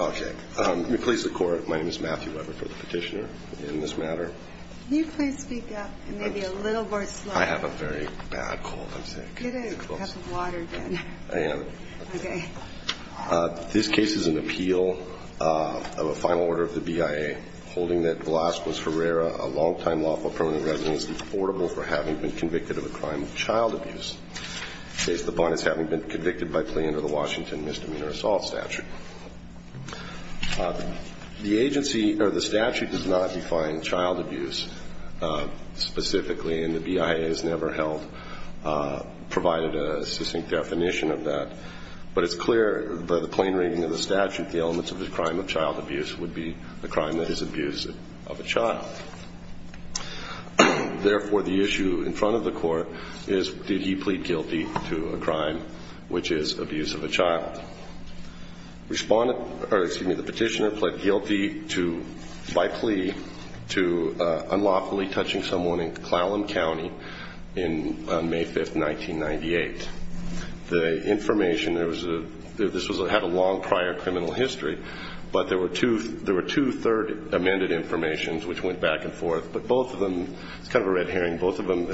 Okay, let me please the court. My name is Matthew Weber for the petitioner in this matter. Can you please speak up and maybe a little more slowly? I have a very bad cold, I'm sorry. Get a cup of water then. I am. Okay. This case is an appeal of a final order of the BIA holding that Velazquez-Herrera, a long-time lawful permanent resident, is deportable for having been convicted of a crime of child abuse. In this case, the bond is having been convicted by plea under the Washington Misdemeanor Assault Statute. The agency, or the statute, does not define child abuse specifically, and the BIA has never provided a succinct definition of that. But it's clear by the plain reading of the statute, the elements of the crime of child abuse would be the crime that is abuse of a child. Therefore, the issue in front of the court is did he plead guilty to a crime, which is abuse of a child. Respondent, or excuse me, the petitioner pled guilty to, by plea, to unlawfully touching someone in Clallam County on May 5, 1998. The information, this had a long prior criminal history, but there were two third amended informations, which went back and forth. But both of them, it's kind of a red herring, both of them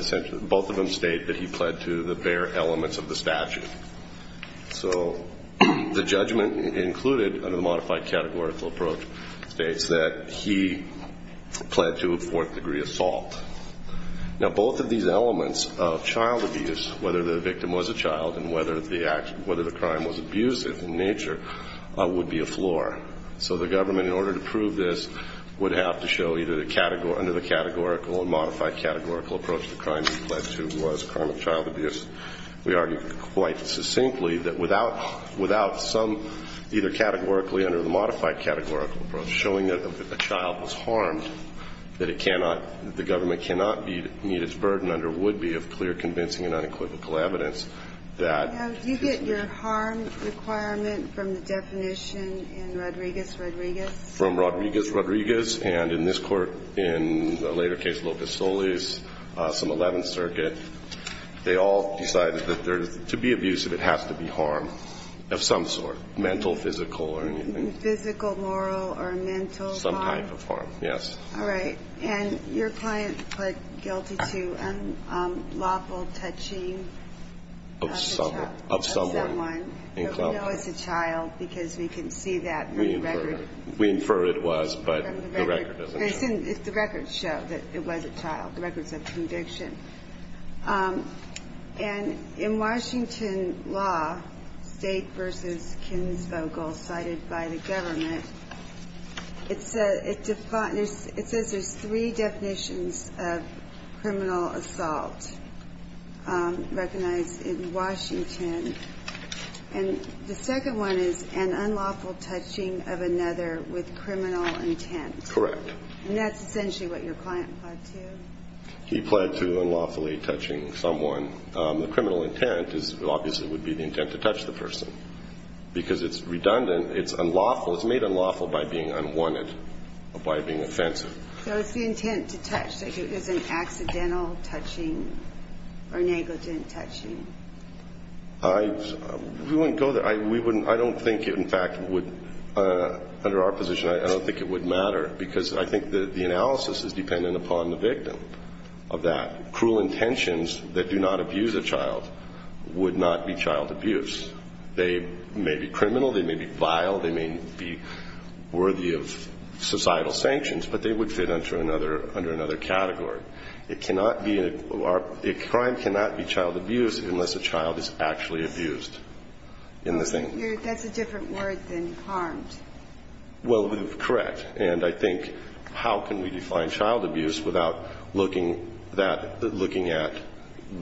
state that he pled to the bare elements of the statute. So the judgment included, under the modified categorical approach, states that he pled to a fourth degree assault. Now, both of these elements of child abuse, whether the victim was a child, and whether the crime was abusive in nature, would be a floor. So the government, in order to prove this, would have to show either under the categorical or modified categorical approach the crime he pled to was a crime of child abuse. We argued quite succinctly that without some either categorically under the modified categorical approach showing that a child was harmed, that it cannot, the government cannot meet its burden under would be of clear convincing and unequivocal evidence that. Now, do you get your harm requirement from the definition in Rodriguez-Rodriguez? From Rodriguez-Rodriguez. And in this Court, in the later case, Locust-Solis, some 11th Circuit, they all decided that to be abusive, it has to be harm of some sort, mental, physical, or anything. Physical, moral, or mental harm? Some type of harm, yes. All right. And your client pled guilty to unlawful touching of a child. Of someone. Of someone. We know it's a child because we can see that from the record. We infer it was, but the record doesn't show. The record showed that it was a child. The record said conviction. And in Washington law, State v. Kinsvogel, cited by the government, it says there's three definitions of criminal assault recognized in Washington. And the second one is an unlawful touching of another with criminal intent. Correct. And that's essentially what your client pled to? He pled to unlawfully touching someone. The criminal intent obviously would be the intent to touch the person. Because it's redundant. It's unlawful. It's made unlawful by being unwanted or by being offensive. So it's the intent to touch. It isn't accidental touching or negligent touching. We wouldn't go there. I don't think it, in fact, would, under our position, I don't think it would matter. Because I think the analysis is dependent upon the victim of that. Cruel intentions that do not abuse a child would not be child abuse. They may be criminal. They may be vile. They may be worthy of societal sanctions. But they would fit under another category. Crime cannot be child abuse unless a child is actually abused. That's a different word than harmed. Well, correct. And I think how can we define child abuse without looking at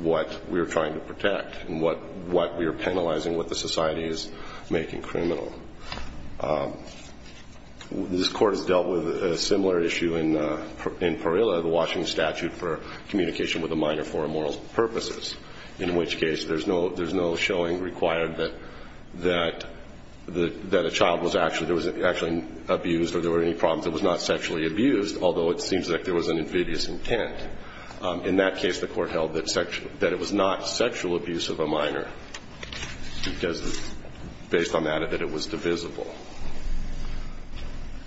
what we're trying to protect and what we are penalizing, what the society is making criminal? This Court has dealt with a similar issue in Parilla, the Washington Statute for Communication with a Minor for Immoral Purposes, in which case there's no showing required that a child was actually abused or there were any problems. It was not sexually abused, although it seems like there was an invidious intent. In that case, the Court held that it was not sexual abuse of a minor, because based on that, that it was divisible.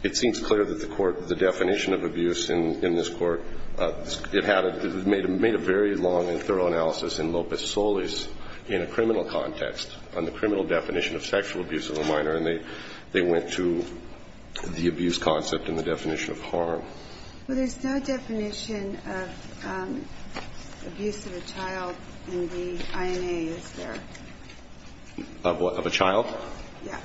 It seems clear that the Court, the definition of abuse in this Court, it made a very long and thorough analysis in Lopez-Solis in a criminal context, on the criminal definition of sexual abuse of a minor, and they went to the abuse concept and the definition of harm. Well, there's no definition of abuse of a child in the INA, is there? Of what? Of a child? Yeah.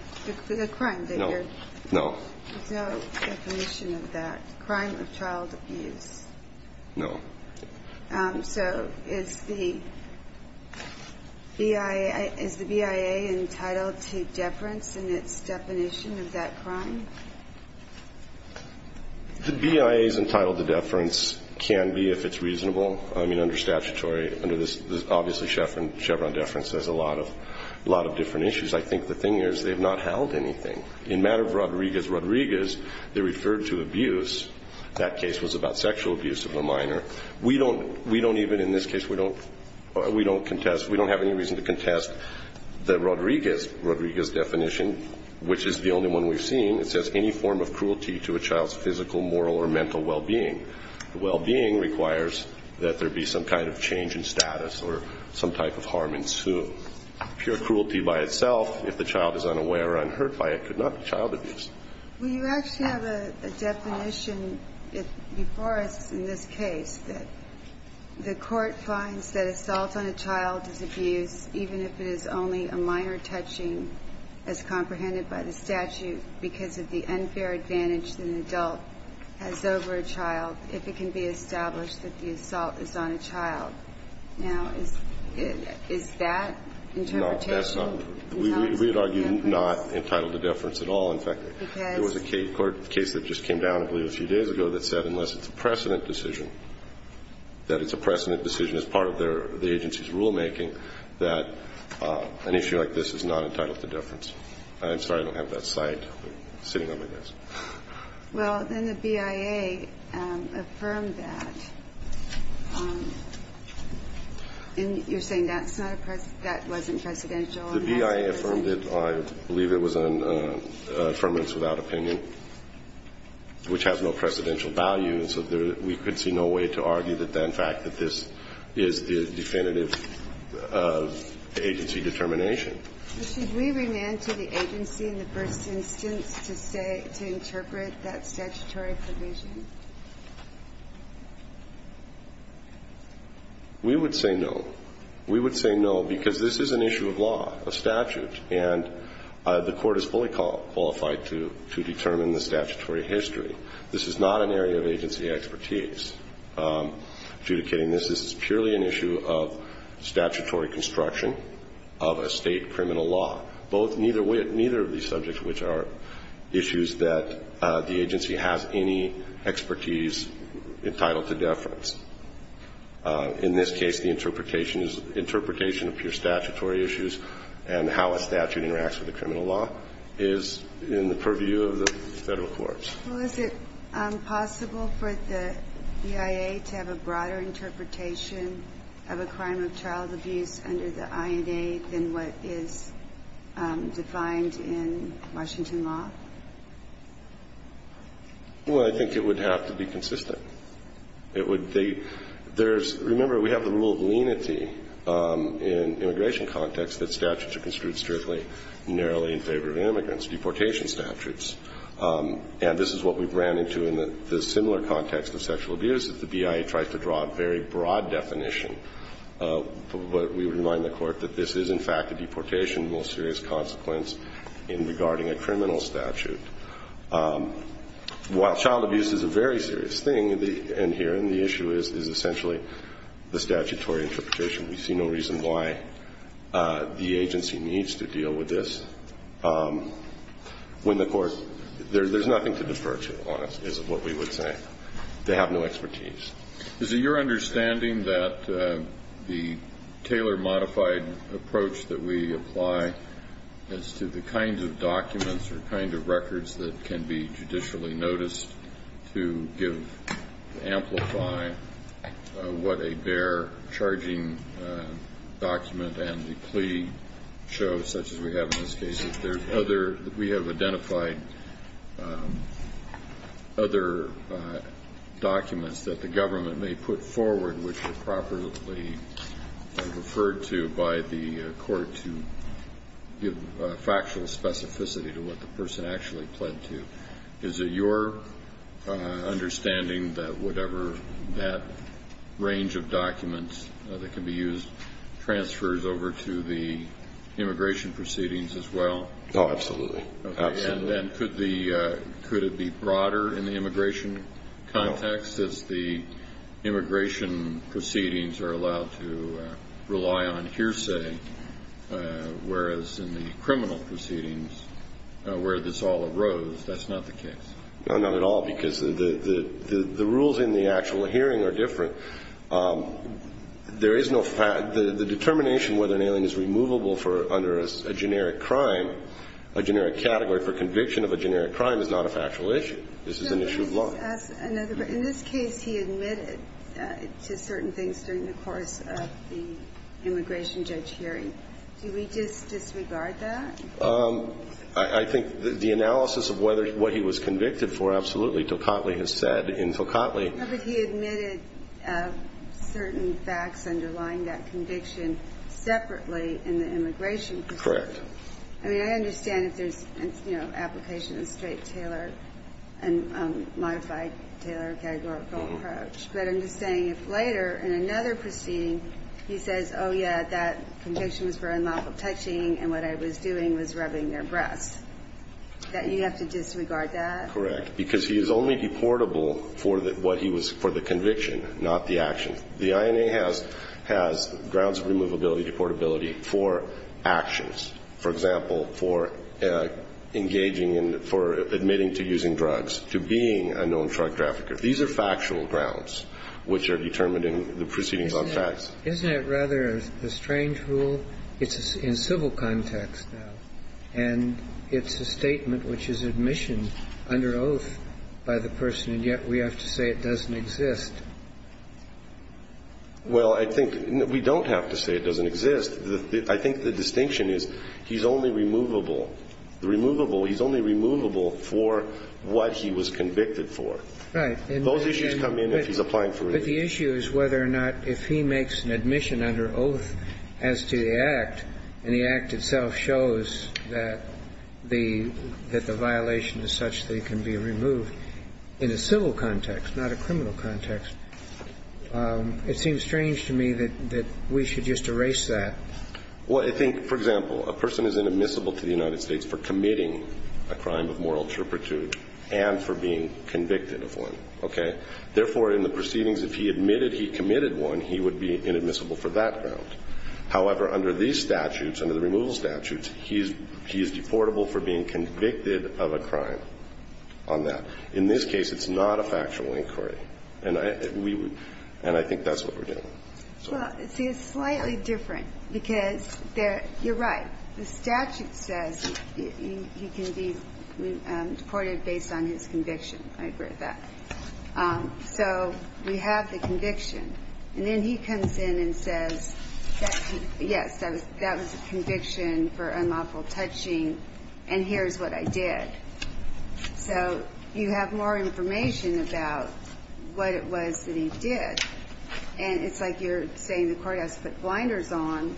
The crime. No. No. There's no definition of that. Crime of child abuse. No. So is the BIA entitled to deference in its definition of that crime? The BIA is entitled to deference, can be, if it's reasonable. I mean, under statutory, under this obviously Chevron deference, there's a lot of different issues. I think the thing is they've not held anything. In matter of Rodriguez-Rodriguez, they referred to abuse. That case was about sexual abuse of a minor. We don't even, in this case, we don't contest, we don't have any reason to contest the Rodriguez definition, which is the only one we've seen. It says any form of cruelty to a child's physical, moral, or mental well-being. Well-being requires that there be some kind of change in status or some type of harm ensue. Pure cruelty by itself, if the child is unaware or unhurt by it, could not be child abuse. Well, you actually have a definition before us in this case that the court finds that assault on a child is abuse, even if it is only a minor touching as comprehended by the statute because of the unfair advantage an adult has over a child, if it can be established that the assault is on a child. Now, is that interpretation? No, that's not. We would argue not entitled to deference at all. In fact, there was a case that just came down, I believe a few days ago, that said unless it's a precedent decision, that it's a precedent decision as part of the agency's rulemaking, that an issue like this is not entitled to deference. I'm sorry, I don't have that cite sitting on my desk. Well, then the BIA affirmed that. And you're saying that's not a precedent? That wasn't precedential? The BIA affirmed it. I believe it was an affirmance without opinion, which has no precedential value. And so we could see no way to argue the fact that this is the definitive agency determination. Should we remand to the agency in the first instance to say, to interpret that statutory provision? We would say no. We would say no, because this is an issue of law, a statute, and the Court is fully qualified to determine the statutory history. This is not an area of agency expertise adjudicating this. This is purely an issue of statutory construction of a state criminal law. Neither of these subjects, which are issues that the agency has any expertise entitled to deference. In this case, the interpretation of pure statutory issues and how a statute interacts with a criminal law is in the purview of the Federal courts. Well, is it possible for the BIA to have a broader interpretation of a crime of child abuse under the INA than what is defined in Washington law? Well, I think it would have to be consistent. It would be there's, remember, we have the rule of lenity in immigration context that statutes are construed strictly narrowly in favor of immigrants, deportation statutes. And this is what we've ran into in the similar context of sexual abuse, that the BIA tries to draw a very broad definition. But we would remind the Court that this is, in fact, a deportation with serious consequence in regarding a criminal statute. While child abuse is a very serious thing in here, and the issue is essentially the statutory interpretation, we see no reason why the agency needs to deal with this. When the Court, there's nothing to defer to, honestly, is what we would say. They have no expertise. Is it your understanding that the tailor-modified approach that we apply as to the kinds of documents or kinds of records that can be judicially noticed to give, to amplify what a bare charging document and the plea show, such as we have in this case, if there's other, we have identified other documents that the government may put forward which are properly referred to by the Court to give factual specificity to what the person actually pled to? Is it your understanding that whatever that range of documents that can be used transfers over to the immigration proceedings as well? Oh, absolutely. Absolutely. And could it be broader in the immigration context as the immigration proceedings are allowed to rely on hearsay, whereas in the criminal proceedings, where this all arose, that's not the case? No, not at all, because the rules in the actual hearing are different. There is no fact. The determination whether an alien is removable under a generic crime, a generic category for conviction of a generic crime, is not a factual issue. This is an issue of law. In this case, he admitted to certain things during the course of the immigration judge hearing. Do we just disregard that? I think the analysis of what he was convicted for, absolutely, and what Till Cotley has said in Till Cotley. No, but he admitted certain facts underlying that conviction separately in the immigration proceedings. Correct. I mean, I understand if there's, you know, application of straight tailor and modified tailor categorical approach, but I'm just saying if later in another proceeding he says, oh, yeah, that conviction was for unlawful touching and what I was doing was rubbing their breasts, that you have to disregard that? Correct. Because he is only deportable for what he was, for the conviction, not the action. The INA has grounds of removability, deportability for actions. For example, for engaging in, for admitting to using drugs, to being a known drug trafficker. These are factual grounds which are determined in the proceedings on facts. Isn't it rather a strange rule? It's in civil context now. And it's a statement which is admission under oath by the person, and yet we have to say it doesn't exist. Well, I think we don't have to say it doesn't exist. I think the distinction is he's only removable. The removable, he's only removable for what he was convicted for. Right. Those issues come in if he's applying for remission. But the issue is whether or not if he makes an admission under oath as to the act, and the act itself shows that the violation is such that it can be removed in a civil context, not a criminal context. It seems strange to me that we should just erase that. Well, I think, for example, a person is inadmissible to the United States for committing a crime of moral turpitude and for being convicted of one. Okay? Therefore, in the proceedings, if he admitted he committed one, he would be inadmissible for that ground. However, under these statutes, under the removal statutes, he is deportable for being convicted of a crime on that. In this case, it's not a factual inquiry. And I think that's what we're doing. Well, see, it's slightly different because you're right. The statute says he can be deported based on his conviction. I agree with that. So we have the conviction. And then he comes in and says, yes, that was a conviction for unlawful touching, and here's what I did. So you have more information about what it was that he did. And it's like you're saying the courthouse put blinders on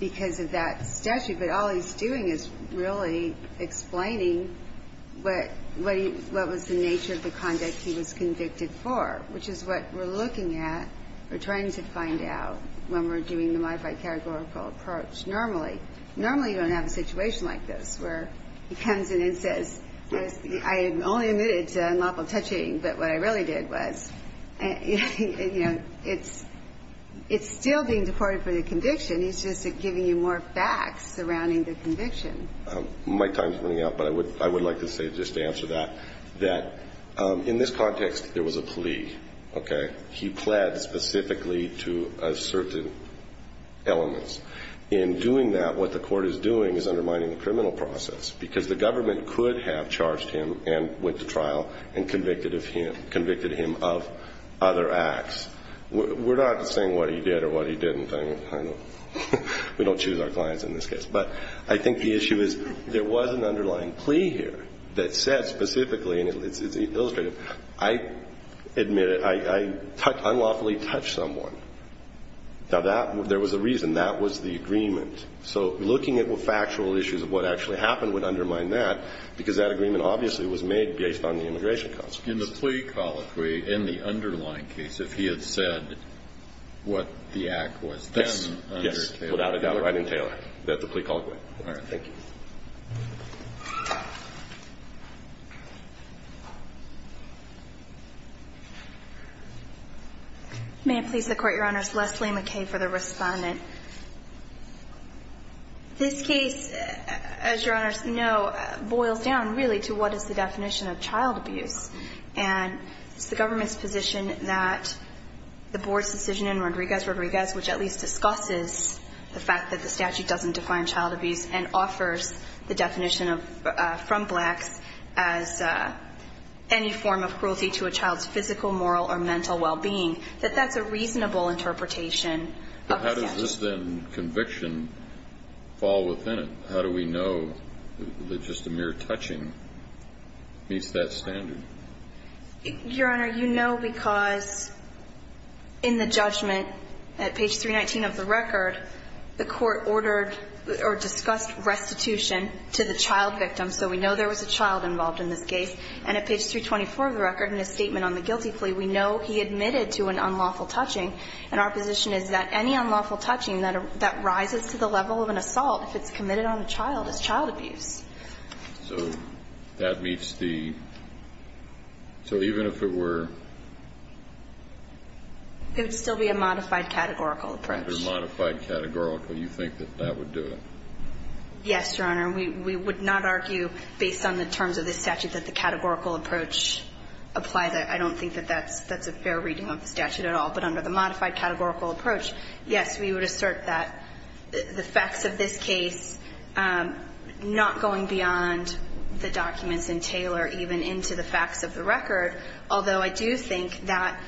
because of that statute. But all he's doing is really explaining what was the nature of the conduct he was deported for, which is what we're looking at or trying to find out when we're doing the modified categorical approach normally. Normally, you don't have a situation like this where he comes in and says, I only admitted to unlawful touching, but what I really did was, you know, it's still being deported for the conviction. He's just giving you more facts surrounding the conviction. My time is running out, but I would like to say just to answer that, that in this context, there was a plea. Okay? He pled specifically to asserted elements. In doing that, what the court is doing is undermining the criminal process because the government could have charged him and went to trial and convicted him of other acts. We're not saying what he did or what he didn't. We don't choose our clients in this case. But I think the issue is there was an underlying plea here that said specifically and it's illustrative, I admitted, I unlawfully touched someone. Now, there was a reason. That was the agreement. So looking at factual issues of what actually happened would undermine that because that agreement obviously was made based on the immigration consequences. In the plea call, in the underlying case, if he had said what the act was then Yes. Without a doubt. Right in Taylor. That's the plea call. All right. Thank you. May it please the Court, Your Honors. Leslie McKay for the respondent. This case, as Your Honors know, boils down really to what is the definition of child abuse. And it's the government's position that the board's decision in Rodriguez which at least discusses the fact that the statute doesn't define child abuse and offers the definition from Blacks as any form of cruelty to a child's physical, moral, or mental well-being, that that's a reasonable interpretation of the statute. But how does this then conviction fall within it? How do we know that just a mere touching meets that standard? Your Honor, you know because in the judgment at page 319 of the record, the court ordered or discussed restitution to the child victim. So we know there was a child involved in this case. And at page 324 of the record in his statement on the guilty plea, we know he admitted to an unlawful touching. And our position is that any unlawful touching that rises to the level of an assault if it's committed on a child is child abuse. So that meets the, so even if it were? It would still be a modified categorical approach. A modified categorical. You think that that would do it? Yes, Your Honor. We would not argue based on the terms of this statute that the categorical approach applies. I don't think that that's a fair reading of the statute at all. But under the modified categorical approach, yes, we would assert that the facts of this case, not going beyond the documents in Taylor, even into the facts of the record, although I do think that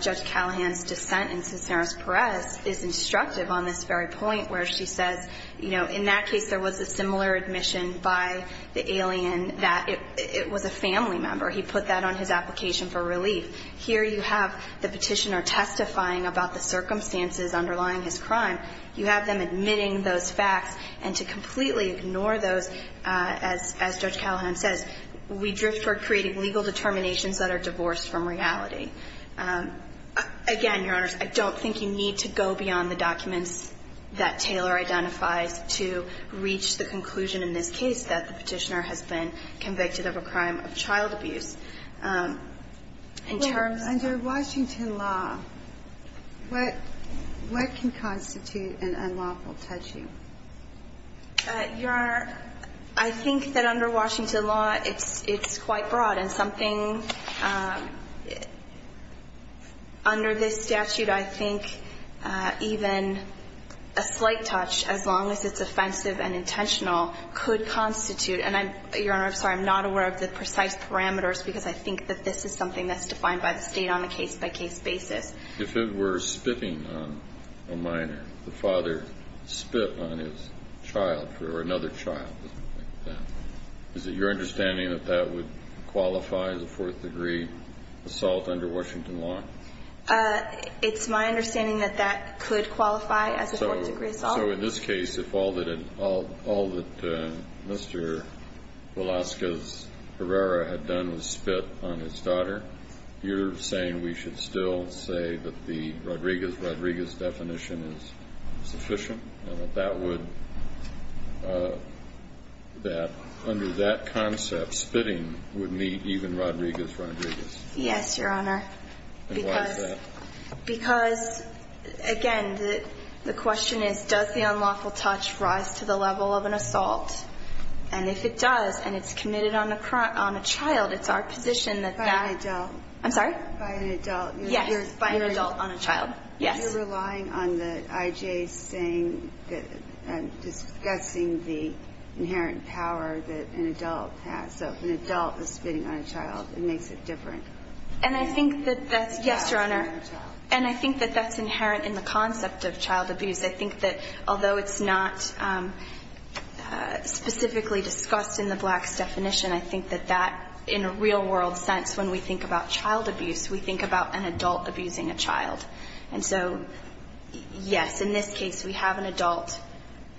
Judge Callahan's dissent in Cisneros-Perez is instructive on this very point where she says, you know, in that case there was a similar admission by the alien that it was a family member. He put that on his application for relief. Here you have the petitioner testifying about the circumstances underlying his crime. You have them admitting those facts. And to completely ignore those, as Judge Callahan says, we drift toward creating legal determinations that are divorced from reality. Again, Your Honors, I don't think you need to go beyond the documents that Taylor identifies to reach the conclusion in this case that the petitioner has been convicted of a crime of child abuse. Under Washington law, what can constitute an unlawful tattoo? Your Honor, I think that under Washington law it's quite broad. And something under this statute I think even a slight touch, as long as it's offensive and intentional, could constitute. And, Your Honor, I'm sorry, I'm not aware of the precise parameters because I think that this is something that's defined by the State on a case-by-case basis. If it were spitting on a minor, the father spit on his child or another child, is it your understanding that that would qualify as a fourth-degree assault under Washington law? It's my understanding that that could qualify as a fourth-degree assault. So in this case, if all that Mr. Velazquez Herrera had done was spit on his daughter, you're saying we should still say that the Rodriguez-Rodriguez definition is sufficient and that under that concept, spitting would meet even Rodriguez-Rodriguez? Yes, Your Honor. And why is that? Because, again, the question is, does the unlawful touch rise to the level of an assault? And if it does and it's committed on a child, it's our position that that ---- By an adult. I'm sorry? By an adult. Yes, by an adult on a child. Yes. You're relying on the I.J. saying that and discussing the inherent power that an adult has. So if an adult is spitting on a child, it makes it different. And I think that that's ---- And I think that that's inherent in the concept of child abuse. I think that although it's not specifically discussed in the Blacks' definition, I think that that, in a real-world sense, when we think about child abuse, we think about an adult abusing a child. And so, yes, in this case, we have an adult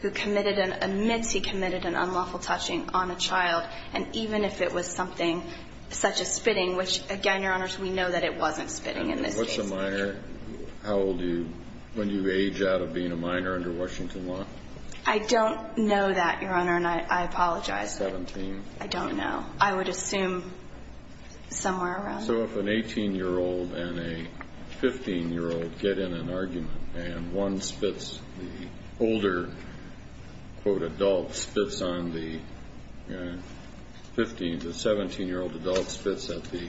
who committed an ---- admits he committed an unlawful touching on a child, and even if it was something such as spitting which, again, Your Honors, we know that it wasn't spitting in this case. And what's a minor? How old do you ---- when you age out of being a minor under Washington law? I don't know that, Your Honor, and I apologize. Seventeen? I don't know. I would assume somewhere around there. So if an 18-year-old and a 15-year-old get in an argument and one spits, the older adult spits on the 15- to 17-year-old adult spits at the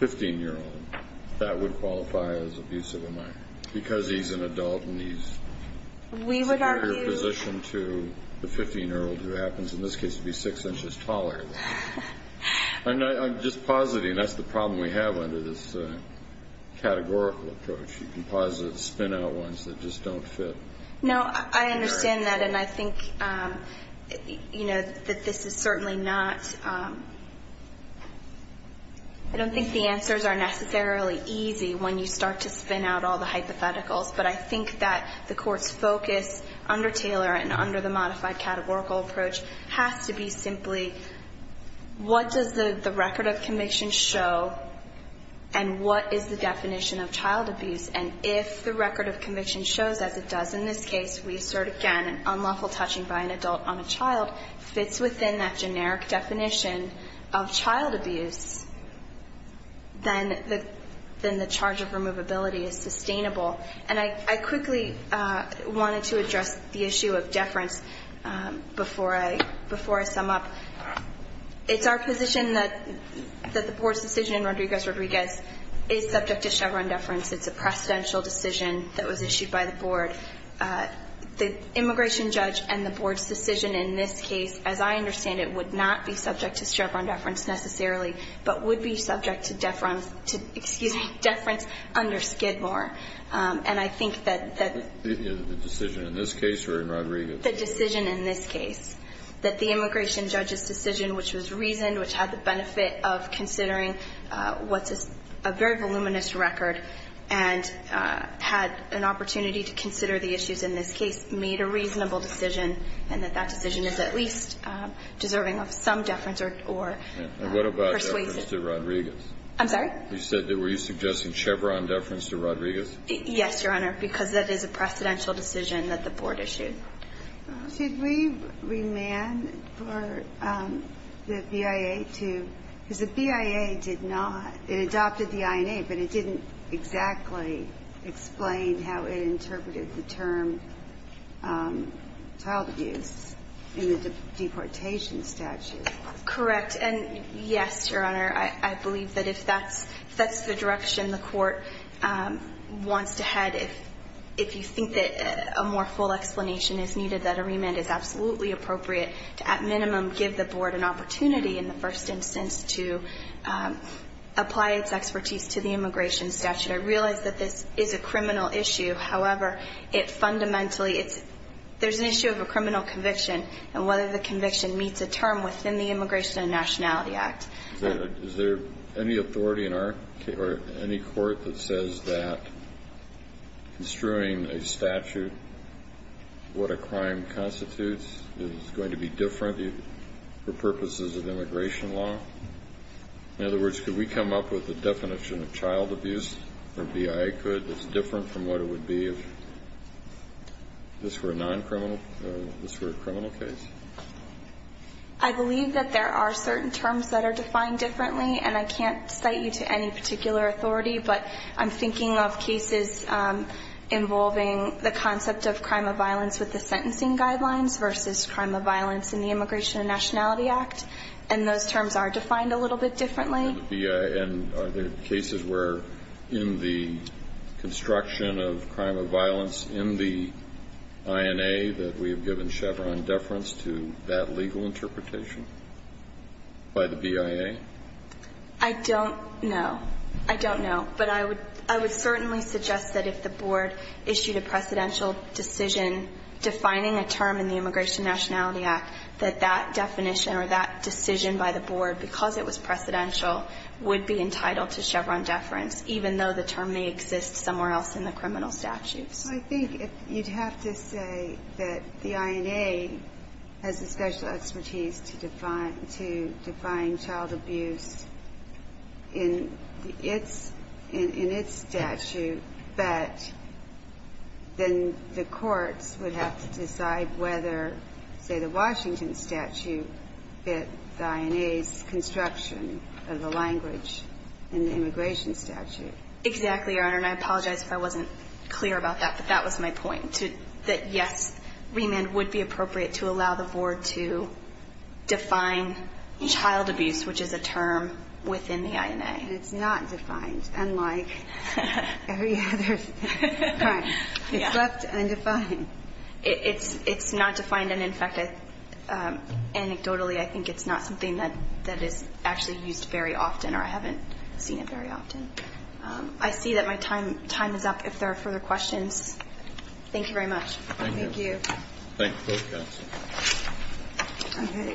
15-year-old, that would qualify as abusive of a minor because he's an adult and he's superior position to the 15-year-old who happens, in this case, to be six inches taller. I'm just positing that's the problem we have under this categorical approach. You can posit spin-out ones that just don't fit. No, I understand that, and I think, you know, that this is certainly not ---- I don't think the answers are necessarily easy when you start to spin out all the hypotheticals, but I think that the Court's focus under Taylor and under the modified categorical approach has to be what does the record of conviction show and what is the definition of child abuse? And if the record of conviction shows, as it does in this case, we assert again, unlawful touching by an adult on a child fits within that generic definition of child abuse, then the charge of removability is sustainable. And I quickly wanted to address the issue of deference before I sum up. It's our position that the Board's decision in Rodriguez-Rodriguez is subject to Chevron deference. It's a precedential decision that was issued by the Board. The immigration judge and the Board's decision in this case, as I understand it, would not be subject to Chevron deference necessarily, but would be subject to deference under Skidmore. And I think that that ---- The decision in this case or in Rodriguez? The decision in this case, that the immigration judge's decision, which was reasoned, which had the benefit of considering what's a very voluminous record and had an opportunity to consider the issues in this case, made a reasonable decision, and that that decision is at least deserving of some deference or ---- And what about deference to Rodriguez? I'm sorry? You said that were you suggesting Chevron deference to Rodriguez? Yes, Your Honor, because that is a precedential decision that the Board issued. Should we remand for the BIA to ---- because the BIA did not. It adopted the INA, but it didn't exactly explain how it interpreted the term child abuse in the deportation statute. Correct. And, yes, Your Honor, I believe that if that's the direction the Court wants to head, if you think that a more full explanation is needed, that a remand is absolutely appropriate to, at minimum, give the Board an opportunity in the first instance to apply its expertise to the immigration statute. I realize that this is a criminal issue. However, it fundamentally ---- there's an issue of a criminal conviction, and whether the conviction meets a term within the Immigration and Nationality Act. Is there any authority in our ---- or any court that says that construing a statute, what a crime constitutes, is going to be different for purposes of immigration law? In other words, could we come up with a definition of child abuse, or BIA could, that's different from what it would be if this were a non-criminal, if this were a criminal case? I believe that there are certain terms that are defined differently, and I can't cite you to any particular authority. But I'm thinking of cases involving the concept of crime of violence with the sentencing guidelines versus crime of violence in the Immigration and Nationality Act. And those terms are defined a little bit differently. And are there cases where in the construction of crime of violence in the INA that we have given Chevron deference to that legal interpretation by the BIA? I don't know. I don't know. But I would certainly suggest that if the board issued a precedential decision defining a term in the Immigration and Nationality Act, that that definition or that decision by the board, because it was precedential, would be entitled to Chevron deference, even though the term may exist somewhere else in the criminal statutes. So I think you'd have to say that the INA has the special expertise to define child abuse in its statute, but then the courts would have to decide whether, say, the Washington statute fit the INA's construction of the language in the immigration statute. Exactly, Your Honor. And I apologize if I wasn't clear about that, but that was my point, that yes, remand would be appropriate to allow the board to define child abuse, which is a term within the INA. And it's not defined, unlike every other. Right. It's left undefined. It's not defined. And, in fact, anecdotally, I think it's not something that is actually used very often, or I haven't seen it very often. I see that my time is up. If there are further questions, thank you very much. Thank you. Thank you. Thank you both guys.